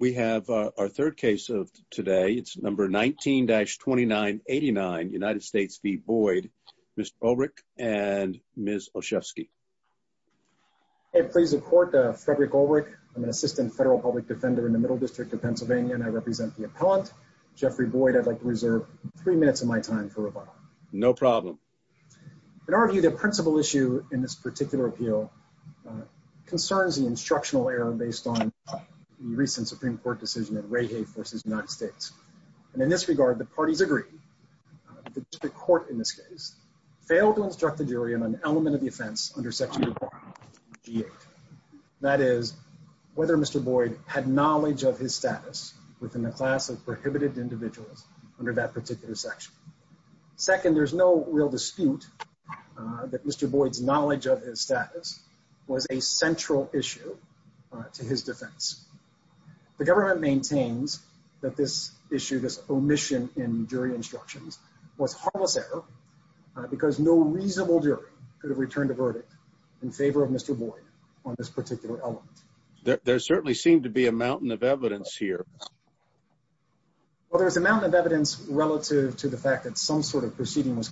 We have our third case of today. It's number 19-2989, United States v. Boyd. Mr. Ulrich and Ms. Olszewski. Hey, pleas of court, Frederick Ulrich. I'm an assistant federal public defender in the middle district of Pennsylvania, and I represent the appellant, Jeffrey Boyd. I'd like to reserve three minutes of my time for rebuttal. No problem. In our view, the principal issue in this particular appeal concerns the instructional error based on the recent Supreme Court decision at Reahey v. United States. And in this regard, the parties agree that the court, in this case, failed to instruct the jury on an element of the offense under section G8. That is, whether Mr. Boyd had knowledge of his status within the class of prohibited individuals under that particular section. Second, there's no real dispute that Mr. Boyd's knowledge of his status was a central issue to his defense. The government maintains that this issue, this omission in jury instructions, was harmless error because no reasonable jury could have returned a verdict in favor of Mr. Boyd on this particular element. There certainly seemed to be a mountain of evidence here. Well, there's a mountain of evidence relative to the fact that some sort of proceeding was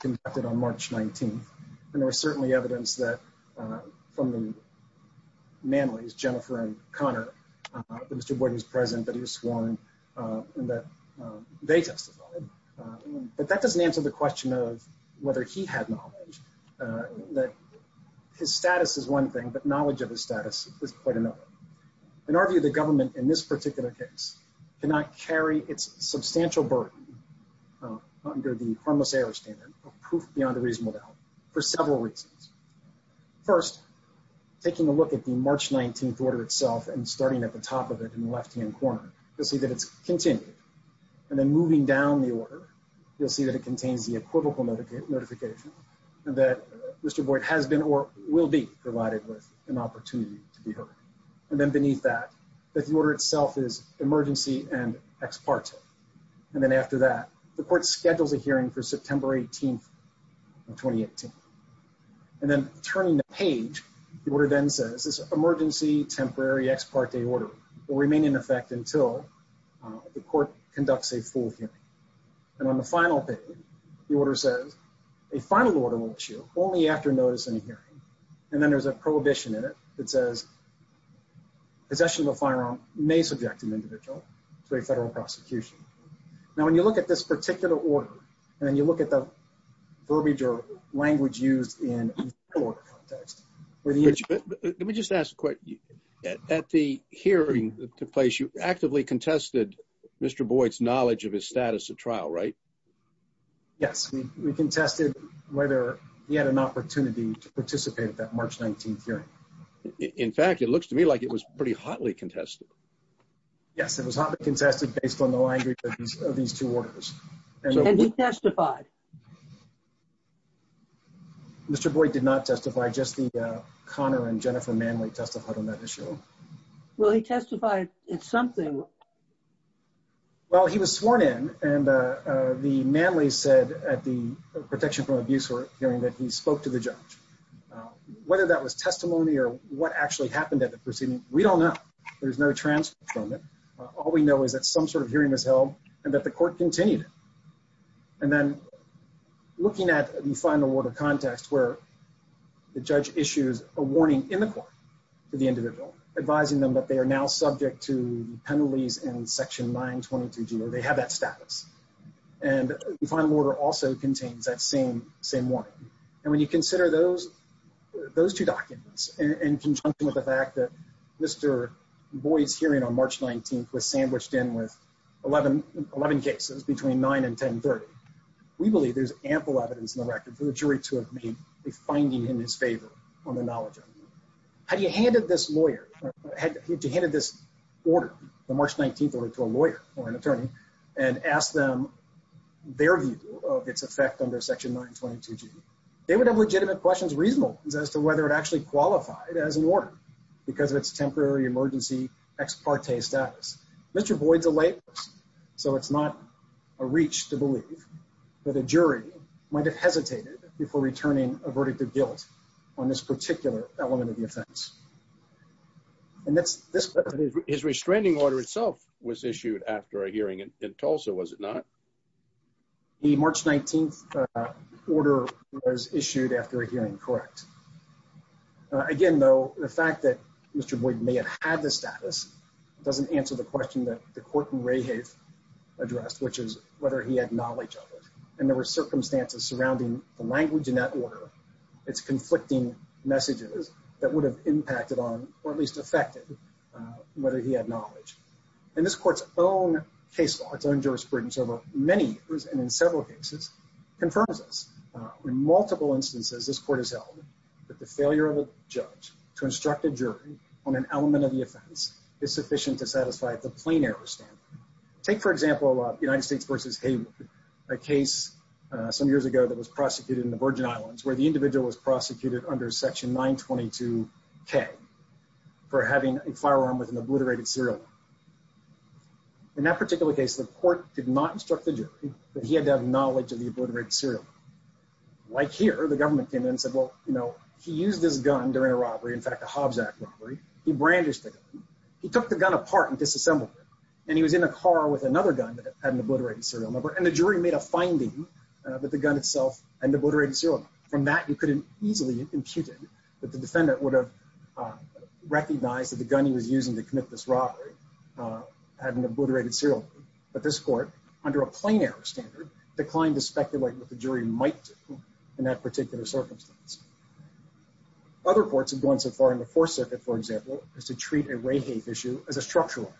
from the Manleys, Jennifer and Connor, that Mr. Boyd was present, that he was sworn, and that they testified. But that doesn't answer the question of whether he had knowledge, that his status is one thing, but knowledge of his status is quite another. In our view, the government in this particular case cannot carry its substantial burden under the harmless error standard of proof beyond a reasonable doubt for several reasons. First, taking a look at the March 19th order itself and starting at the top of it in the left hand corner, you'll see that it's continued. And then moving down the order, you'll see that it contains the equivocal notification that Mr. Boyd has been or will be provided with an opportunity to be heard. And then beneath that, the order itself is emergency and ex parte. And then after that, the court schedules a hearing for September 18th of 2018. And then turning the page, the order then says this emergency temporary ex parte order will remain in effect until the court conducts a full hearing. And on the final page, the order says a final order will issue only after notice and hearing. And then there's a prohibition in it that says possession of a firearm may subject an individual to a federal prosecution. Now, when you look at this particular order, and then you look at the verbiage or language used in a federal order context... Let me just ask a question. At the hearing that took place, you actively contested Mr. Boyd's knowledge of his status at trial, right? Yes, we contested whether he had an opportunity to participate at that March 19th Yes, it was hotly contested based on the language of these two orders. And he testified? Mr. Boyd did not testify, just the Connor and Jennifer Manley testified on that issue. Well, he testified in something. Well, he was sworn in and the Manley said at the protection from abuse hearing that he spoke to the judge. Whether that was testimony or what actually happened at the proceeding, we don't know. There's no transfer from it. All we know is that some sort of hearing was held and that the court continued. And then looking at the final order context where the judge issues a warning in the court to the individual, advising them that they are now subject to penalties in Section 922G, or they have that status. And the final order also contains that same warning. And when you consider those two documents, in conjunction with the fact that Mr. Boyd's hearing on March 19th was sandwiched in with 11 cases between 9 and 1030, we believe there's ample evidence in the record for the jury to have made a finding in his favor on the knowledge of him. Had he handed this order, the March 19th order, to a lawyer or an attorney and asked them their view of its effect under Section 922G, they would have legitimate questions, reasonable as to whether it actually qualified as an order because of its temporary emergency ex parte status. Mr. Boyd's a layperson, so it's not a reach to believe that a jury might have hesitated before returning a verdict of guilt on this particular element of the offense. His restraining order itself was issued after a hearing in Tulsa, was it not? The March 19th order was issued after a hearing, correct. Again, though, the fact that Mr. Boyd may have had the status doesn't answer the question that the court in Rehave addressed, which is whether he had knowledge of it. And there were circumstances surrounding the language in that order, its conflicting messages that would have impacted on, or at least affected, whether he had knowledge. In this court's own case law, its own jurisprudence over many years and in several cases, confirms this. In multiple instances, this court has held that the failure of a judge to instruct a jury on an element of the offense is sufficient to satisfy the plain error standard. Take, for example, United States v. Hayward, a case some years ago that was prosecuted in the Virgin Islands where the individual was prosecuted under section 922k for having a firearm with an obliterated serial number. In that particular case, the court did not instruct the jury, but he had to have knowledge of the obliterated serial number. Like here, the government came in and said, well, you know, he used this gun during a robbery, in fact, a Hobbs Act robbery. He brandished the gun. He took the gun apart and disassembled it, and he was in a car with another gun that had an obliterated serial number, and the jury made a that the defendant would have recognized that the gun he was using to commit this robbery had an obliterated serial number. But this court, under a plain error standard, declined to speculate what the jury might do in that particular circumstance. Other courts have gone so far in the Fourth Circuit, for example, as to treat a rape-hate issue as a structural.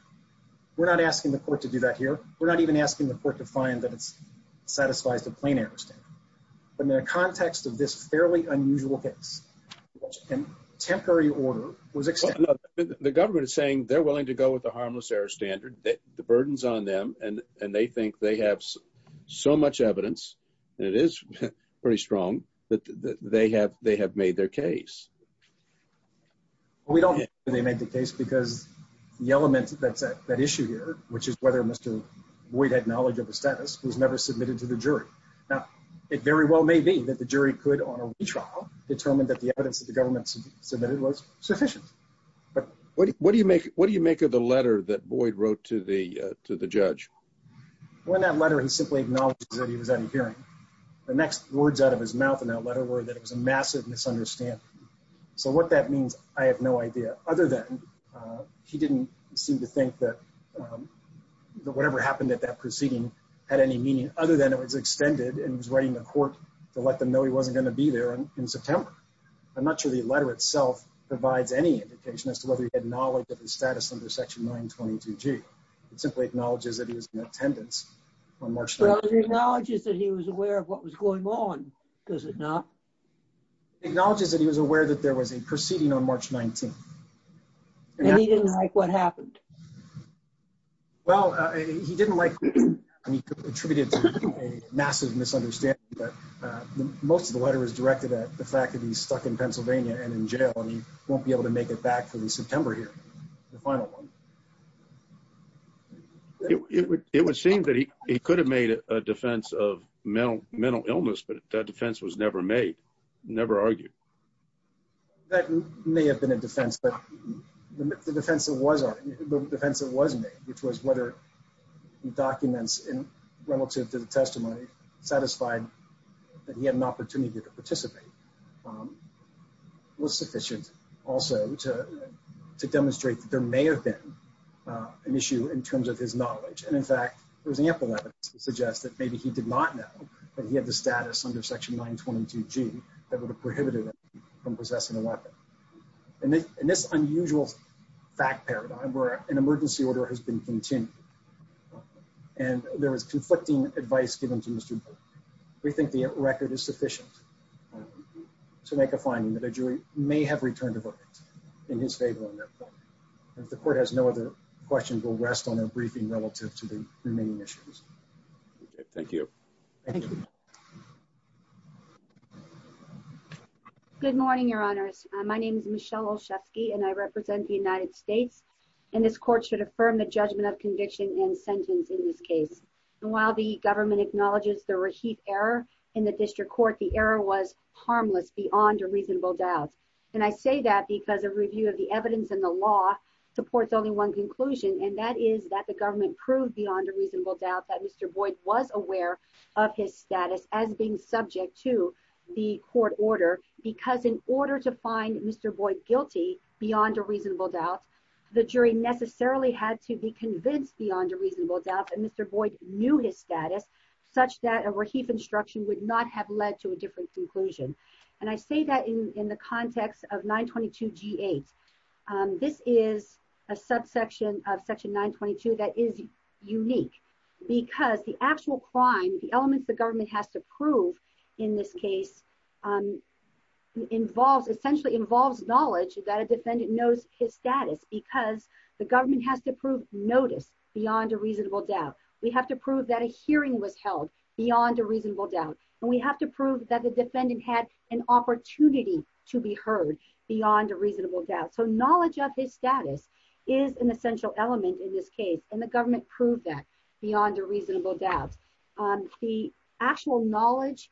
We're not asking the court to do that here. We're not even asking the court to find that it was a fairly unusual case. And temporary order was extended. Well, no, the government is saying they're willing to go with the harmless error standard, the burden's on them, and they think they have so much evidence, and it is pretty strong, that they have made their case. We don't think they made the case because the element that's at issue here, which is whether Mr. Boyd had knowledge of the status, was never submitted to the jury. Now, it very well may be that the jury could, on a retrial, determine that the evidence that the government submitted was sufficient. What do you make of the letter that Boyd wrote to the judge? Well, in that letter, he simply acknowledged that he was out of hearing. The next words out of his mouth in that letter were that it was a massive misunderstanding. So what that means, I have no idea, other than he didn't seem to think that whatever happened at that proceeding had any meaning, other than it was extended, and he was writing the court to let them know he wasn't going to be there in September. I'm not sure the letter itself provides any indication as to whether he had knowledge of his status under Section 922G. It simply acknowledges that he was in attendance on March 19th. Well, it acknowledges that he was aware of what was going on, does it not? It acknowledges that he was aware that there was a proceeding on March 19th. And he didn't like what happened? Well, he didn't like what happened, and he attributed it to a massive misunderstanding, but most of the letter is directed at the fact that he's stuck in Pennsylvania and in jail, and he won't be able to make it back for the September hearing, the final one. It would seem that he could have made a defense of mental illness, but that defense was never made, never argued. That may have been a defense, but the defense that was made, which was whether documents relative to the testimony satisfied that he had an opportunity to participate, was sufficient also to demonstrate that there may have been an issue in terms of his knowledge. And in fact, there was ample evidence to suggest that maybe he did not know that he had the status under Section 922G that would have prohibited him from possessing a weapon. In this unusual fact paradigm where an emergency order has been continued, and there was conflicting advice given to Mr. Burke, we think the record is sufficient to make a finding that a jury may have returned a verdict in his favor on that point. If the court has no other questions, we'll rest on their briefing relative to the remaining issues. Thank you. Thank you. Good morning, your honors. My name is Michelle Olszewski, and I represent the United States. And this court should affirm the judgment of conviction and sentence in this case. And while the government acknowledges the Raheith error in the district court, the error was harmless beyond a reasonable doubt. And I say that because a review of the evidence in the law supports only one conclusion, and that is that the government proved beyond a reasonable doubt that Mr. Boyd was aware of his status as being subject to the court order. Because in order to find Mr. Boyd guilty beyond a reasonable doubt, the jury necessarily had to be convinced beyond a reasonable doubt that Mr. Boyd knew his status, such that a Raheith instruction would not have led to a different conclusion. And I say that in the context of 922 G8. This is a subsection of section 922 that is unique, because the actual crime, the elements the government has to prove in this case, essentially involves knowledge that a defendant knows his status, because the government has to prove notice beyond a reasonable doubt. We have to prove that a hearing was held beyond a reasonable doubt. And we have to prove that the defendant had an opportunity to be heard beyond a reasonable doubt. So knowledge of his status is an essential element in this case, and the government proved that beyond a reasonable doubt. The actual knowledge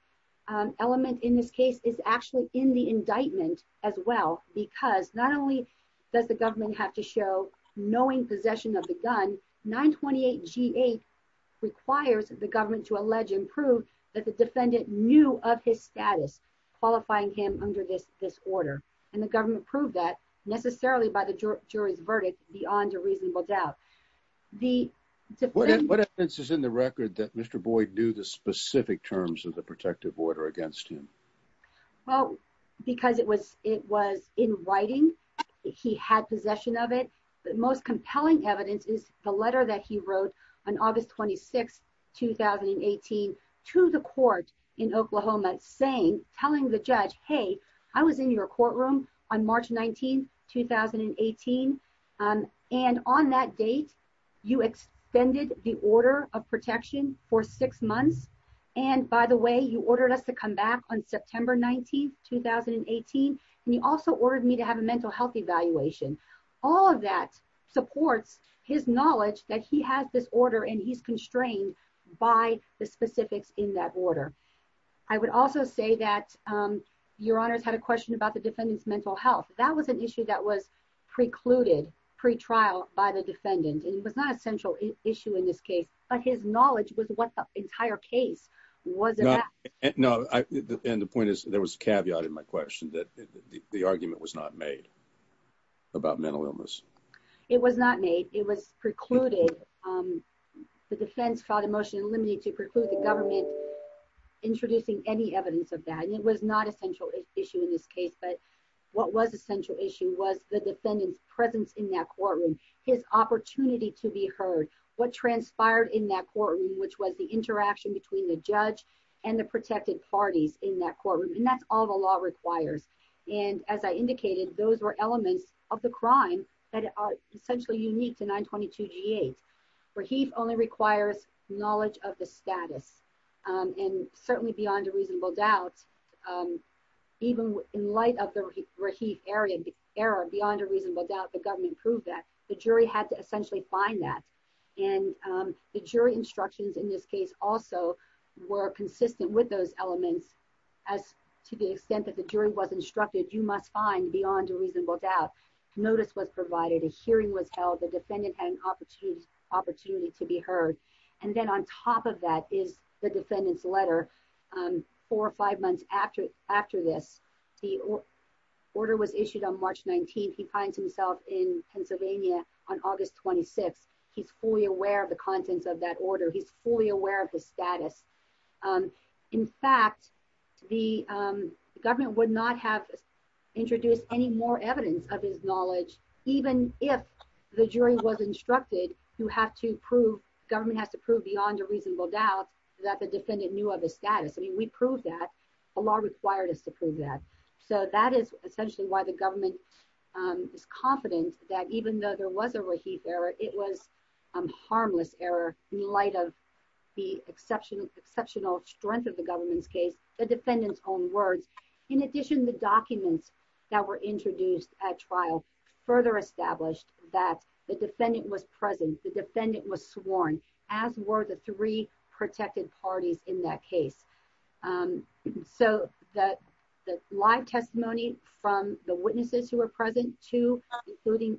element in this case is actually in the indictment as well, because not only does the government have to show knowing possession of the gun, 928 G8 requires the government to allege and prove that the defendant knew of his status, qualifying him under this order. And the government proved that necessarily by the jury's verdict beyond a reasonable doubt. What evidence is in the record that Mr. Boyd knew the specific terms of the protective order against him? Well, because it was in writing, he had possession of it. The most compelling evidence is the letter that he wrote on August 26, 2018, to the court in Oklahoma, saying, telling the judge, hey, I was in your courtroom on March 19, 2018. And on that date, you extended the order of protection for six months. And by the way, you ordered us to come back on September 19, 2018. And you also ordered me to have a mental health evaluation. All of that supports his knowledge that he has this order, and he's constrained by the specifics in that order. I would also say that your honors had a question about the defendant's mental health. That was an issue that was precluded, pretrial by the defendant. And it was not a central issue in this case, but his knowledge was what the entire case was about. No, and the point is, there was a caveat in my question that the argument was not made. It was not made. It was precluded. The defense filed a motion limiting to preclude the government introducing any evidence of that. And it was not a central issue in this case. But what was a central issue was the defendant's presence in that courtroom, his opportunity to be heard, what transpired in that courtroom, which was the interaction between the judge and the protected parties in that courtroom. And that's all the law requires. And as I indicated, those were elements of the crime that are essentially unique to 922-G8. Rahif only requires knowledge of the status. And certainly beyond a reasonable doubt, even in light of the Rahif error, beyond a reasonable doubt, the government proved that. The jury had to essentially find that. And the jury instructions in this case also were consistent with those elements as to the extent that the jury was instructed, you must find beyond a reasonable doubt. Notice was provided, a hearing was held, the defendant had an opportunity to be heard. And then on top of that is the defendant's letter. Four or five months after this, the order was issued on March 19th. He finds himself in Pennsylvania on August 26th. He's fully aware of the contents of that order. He's fully aware of his status. In fact, the government would not have introduced any more evidence of his knowledge, even if the jury was instructed, you have to prove, government has to prove beyond a reasonable doubt that the defendant knew of his status. I mean, we proved that. The law required us to prove that. So that is essentially why the government is confident that even though there was a Rahif error, it was a harmless error in light of the exceptional strength of the government's case, the defendant's own words. In addition, the documents that were introduced at trial further established that the defendant was present, the defendant was sworn, as were the three protected parties in that case. So the live testimony from the witnesses who were present, two, including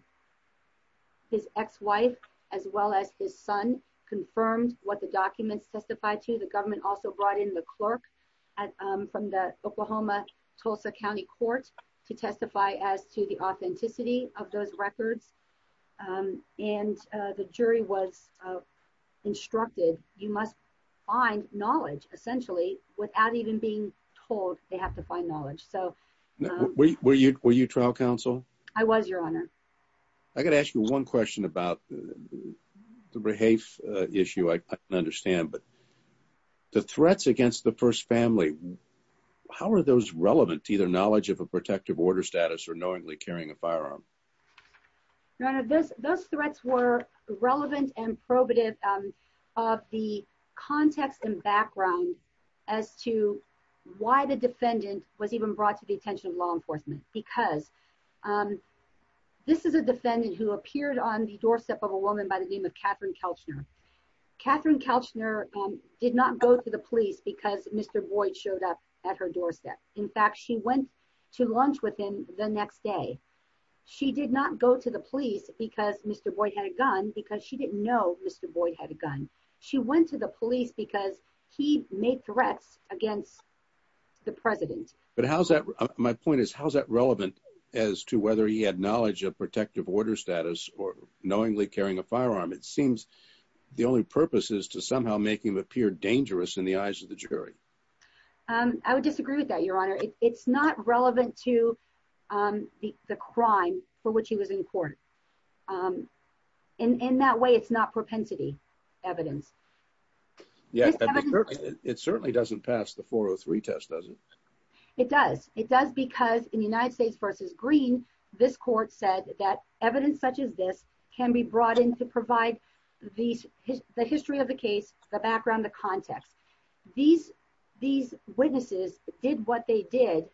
his ex-wife, as well as his son, confirmed what the documents testified to. The government also brought in the clerk from the Oklahoma Tulsa County Court to testify as to the authenticity of those records. And the jury was instructed, you must find knowledge essentially, without even being told they have to find knowledge. Were you trial counsel? I was, Your Honor. I got to ask you one question about the Rahif issue. I can understand, but the threats against the first family, how are those relevant to either knowledge of a protective order status or knowingly carrying a firearm? Those threats were relevant and probative of the context and background as to why the defendant was even brought to the attention of law enforcement. Because this is a defendant who appeared on the doorstep of a woman by the name of Catherine Kelchner. Catherine Kelchner did not go to the police because Mr. Boyd showed up at her doorstep. In fact, she went to lunch with him the next day. She did not go to the police because Mr. Boyd had a gun, because she didn't know Mr. Boyd had a gun. She went to the police because he made threats against the president. But my point is, how is that relevant as to whether he had knowledge of protective order status or knowingly carrying a firearm? It seems the only purpose is to somehow make him appear dangerous in the eyes of the jury. I would disagree with that, Your Honor. It's not relevant to the crime for which he was in court. And in that way, it's not propensity evidence. Yeah, it certainly doesn't pass the 403 test, does it? It does. It does because in United States v. Green, this court said that evidence such as this can be brought in to provide the history of the case, the background, the context. These witnesses did what they did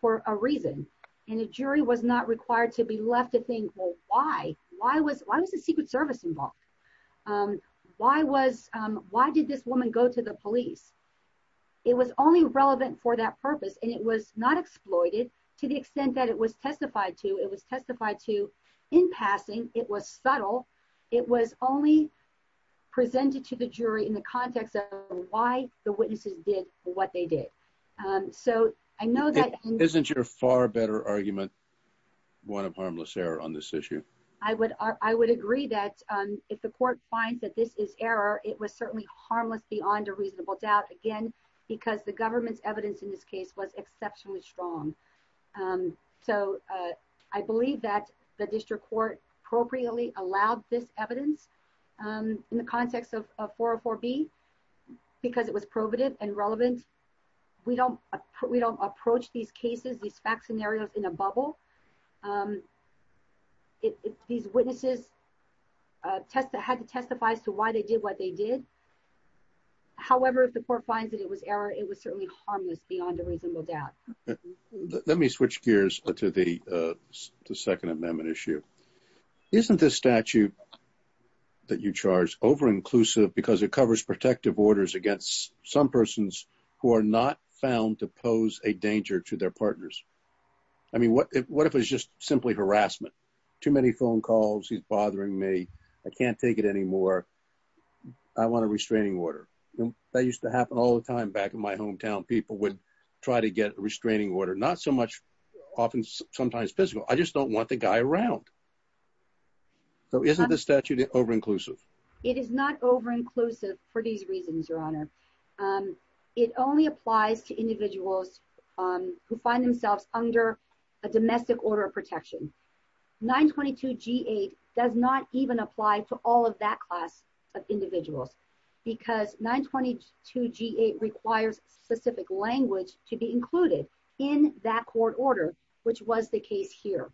for a reason. And a jury was not required to be left to think, well, why? Why was the Secret Service involved? Why did this woman go to the police? It was only relevant for that purpose. And it was not exploited to the extent that it was testified to. It was testified to in passing. It was subtle. It was only presented to the jury in the context of why the witnesses did what they did. So I know that— Isn't your far better argument one of harmless error on this issue? I would agree that if the court finds that this is error, it was certainly harmless beyond a reasonable doubt, again, because the government's evidence in this case was exceptionally strong. So I believe that the district court appropriately allowed this evidence in the context of 404B because it was probative and relevant. We don't approach these cases, these fact scenarios, in a bubble. These witnesses had to testify as to why they did what they did. However, if the court finds that it was error, it was certainly harmless beyond a reasonable doubt. Let me switch gears to the Second Amendment issue. Isn't this statute that you charge over-inclusive because it covers protective orders against some persons who are not found to pose a danger to their partners? I mean, what if it was just simply harassment? Too many phone calls. He's bothering me. I can't take it anymore. I want a restraining order. That used to happen all the time back in my hometown. People would try to get a restraining order. Not so much—often, sometimes physical. I just don't want the guy around. So isn't this statute over-inclusive? It is not over-inclusive for these reasons, Your Honor. It only applies to individuals who find themselves under a domestic order of protection. 922G8 does not even apply to all of that class of individuals because 922G8 requires specific language to be included in that court order, which was the case here.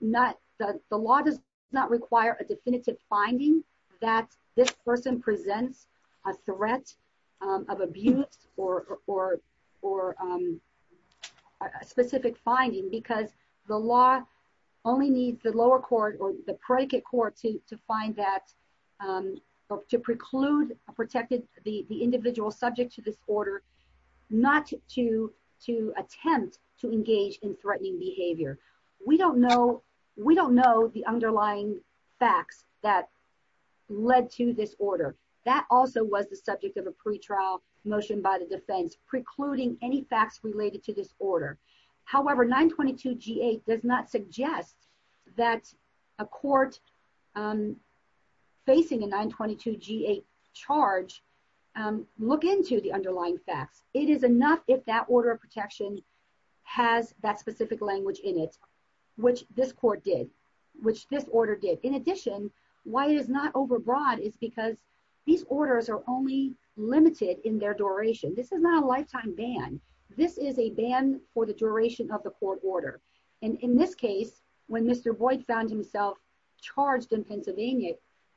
Not—the law does not require a definitive finding that this person presents a threat of abuse or a specific finding because the law only needs the lower court or the predicate court to find that— to preclude or protect the individual subject to this order, not to attempt to engage in threatening behavior. We don't know—we don't know the underlying facts that led to this order. That also was the subject of a pretrial motion by the defense, precluding any facts related to this order. However, 922G8 does not suggest that a court facing a 922G8 charge look into the underlying facts. It is enough if that order of protection has that specific language in it, which this court did, which this order did. In addition, why it is not overbroad is because these orders are only limited in their duration. This is not a lifetime ban. This is a ban for the duration of the court order. And in this case, when Mr. Boyd found himself charged in Pennsylvania,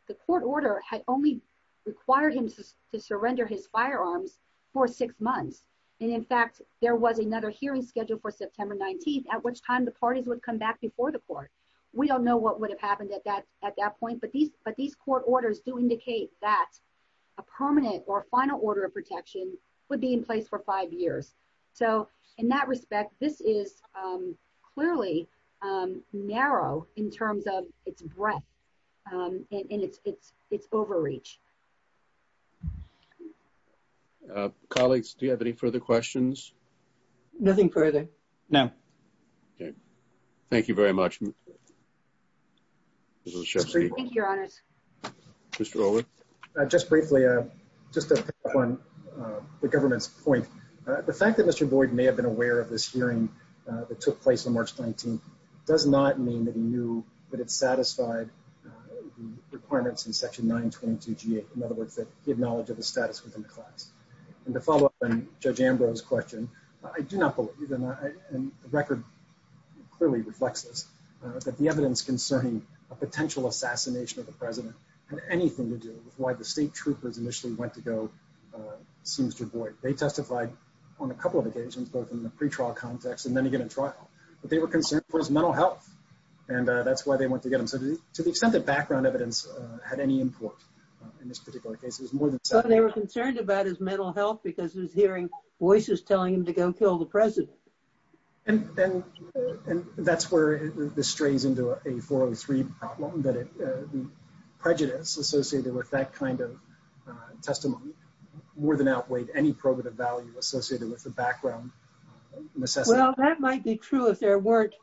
the court order had only required him to surrender his firearms for six months. And in fact, there was another hearing scheduled for September 19th, at which time the parties would come back before the court. We don't know what would have happened at that point, but these court orders do indicate that a permanent or final order of protection would be in place for five years. So in that respect, this is clearly narrow in terms of its breadth. And it's overreach. Colleagues, do you have any further questions? Nothing further. No. Okay. Thank you very much. Thank you, Your Honors. Just briefly, just to pick up on the government's point. The fact that Mr. Boyd may have been aware of this hearing that took place on March 19th does not mean that he knew that it satisfied requirements in Section 922 G8. In other words, that he had knowledge of the status within the class. And to follow up on Judge Ambrose's question, I do not believe, and the record clearly reflects this, that the evidence concerning a potential assassination of the president had anything to do with why the state troopers initially went to go see Mr. Boyd. They testified on a couple of occasions, both in the pretrial context and then again in trial. But they were concerned for his mental health. And that's why they went to get him. So to the extent that background evidence had any import in this particular case, it was more than settled. They were concerned about his mental health because he was hearing voices telling him to go kill the president. And that's where this strays into a 403 problem, that the prejudice associated with that kind of testimony more than outweighed any probative value associated with the background necessity. Well, that might be true if there weren't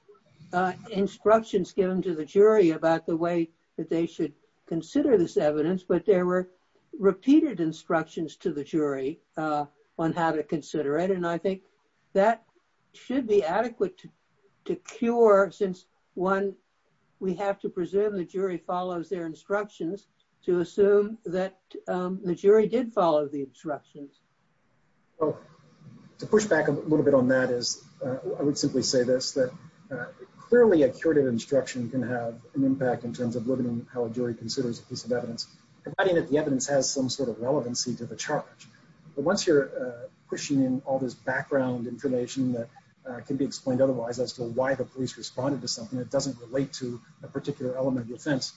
instructions given to the jury about the way that they should consider this evidence, but there were repeated instructions to the jury on how to consider it. And I think that should be adequate to cure, since one, we have to presume the jury follows their instructions to assume that the jury did follow the instructions. Well, to push back a little bit on that is, I would simply say this, that clearly a curative instruction can have an impact in terms of limiting how a jury considers a piece of evidence, providing that the evidence has some sort of relevancy to the charge. But once you're pushing in all this background information that can be explained otherwise, as to why the police responded to something that doesn't relate to a particular element of the offense,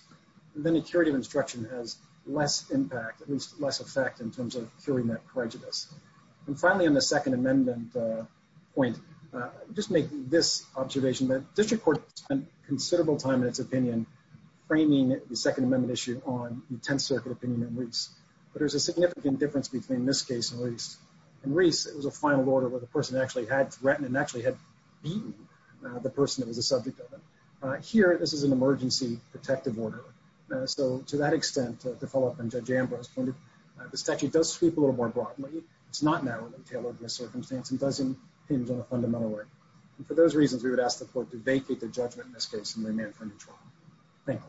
then a curative instruction has less impact, at least less effect in terms of curing that prejudice. And finally, on the Second Amendment point, just make this observation that District Court spent considerable time in its opinion, framing the Second Amendment issue on the Tenth Circuit opinion in Reese. But there's a significant difference between this case and Reese. In Reese, it was a final order where the person actually had threatened and actually had beaten the person that was the subject of it. Here, this is an emergency protective order. So to that extent, to follow up on Judge Ambrose's point, the statute does sweep a little more broadly. It's not narrowly tailored to a circumstance and doesn't hinge on a fundamental order. And for those reasons, we would ask the court to vacate the judgment in this case and remain for a new trial. Thank you.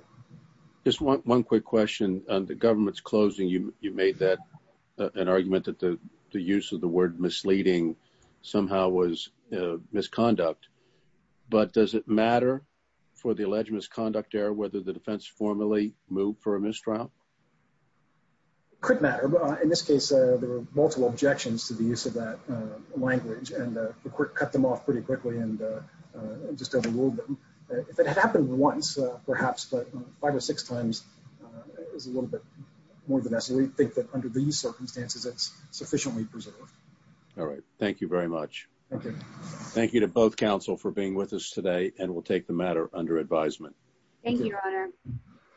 Just one quick question. On the government's closing, you made that an argument that the use of the word misleading somehow was misconduct. But does it matter for the alleged misconduct error whether the defense formally moved for a mistrial? Could matter. In this case, there were multiple objections to the use of that language, and the court cut them off pretty quickly and just overruled them. If it had happened once, perhaps, but five or six times, it was a little bit more than necessary. We think that under these circumstances, it's sufficiently preserved. All right. Thank you very much. Thank you. Thank you to both counsel for being with us today, and we'll take the matter under advisement. Thank you, Your Honor.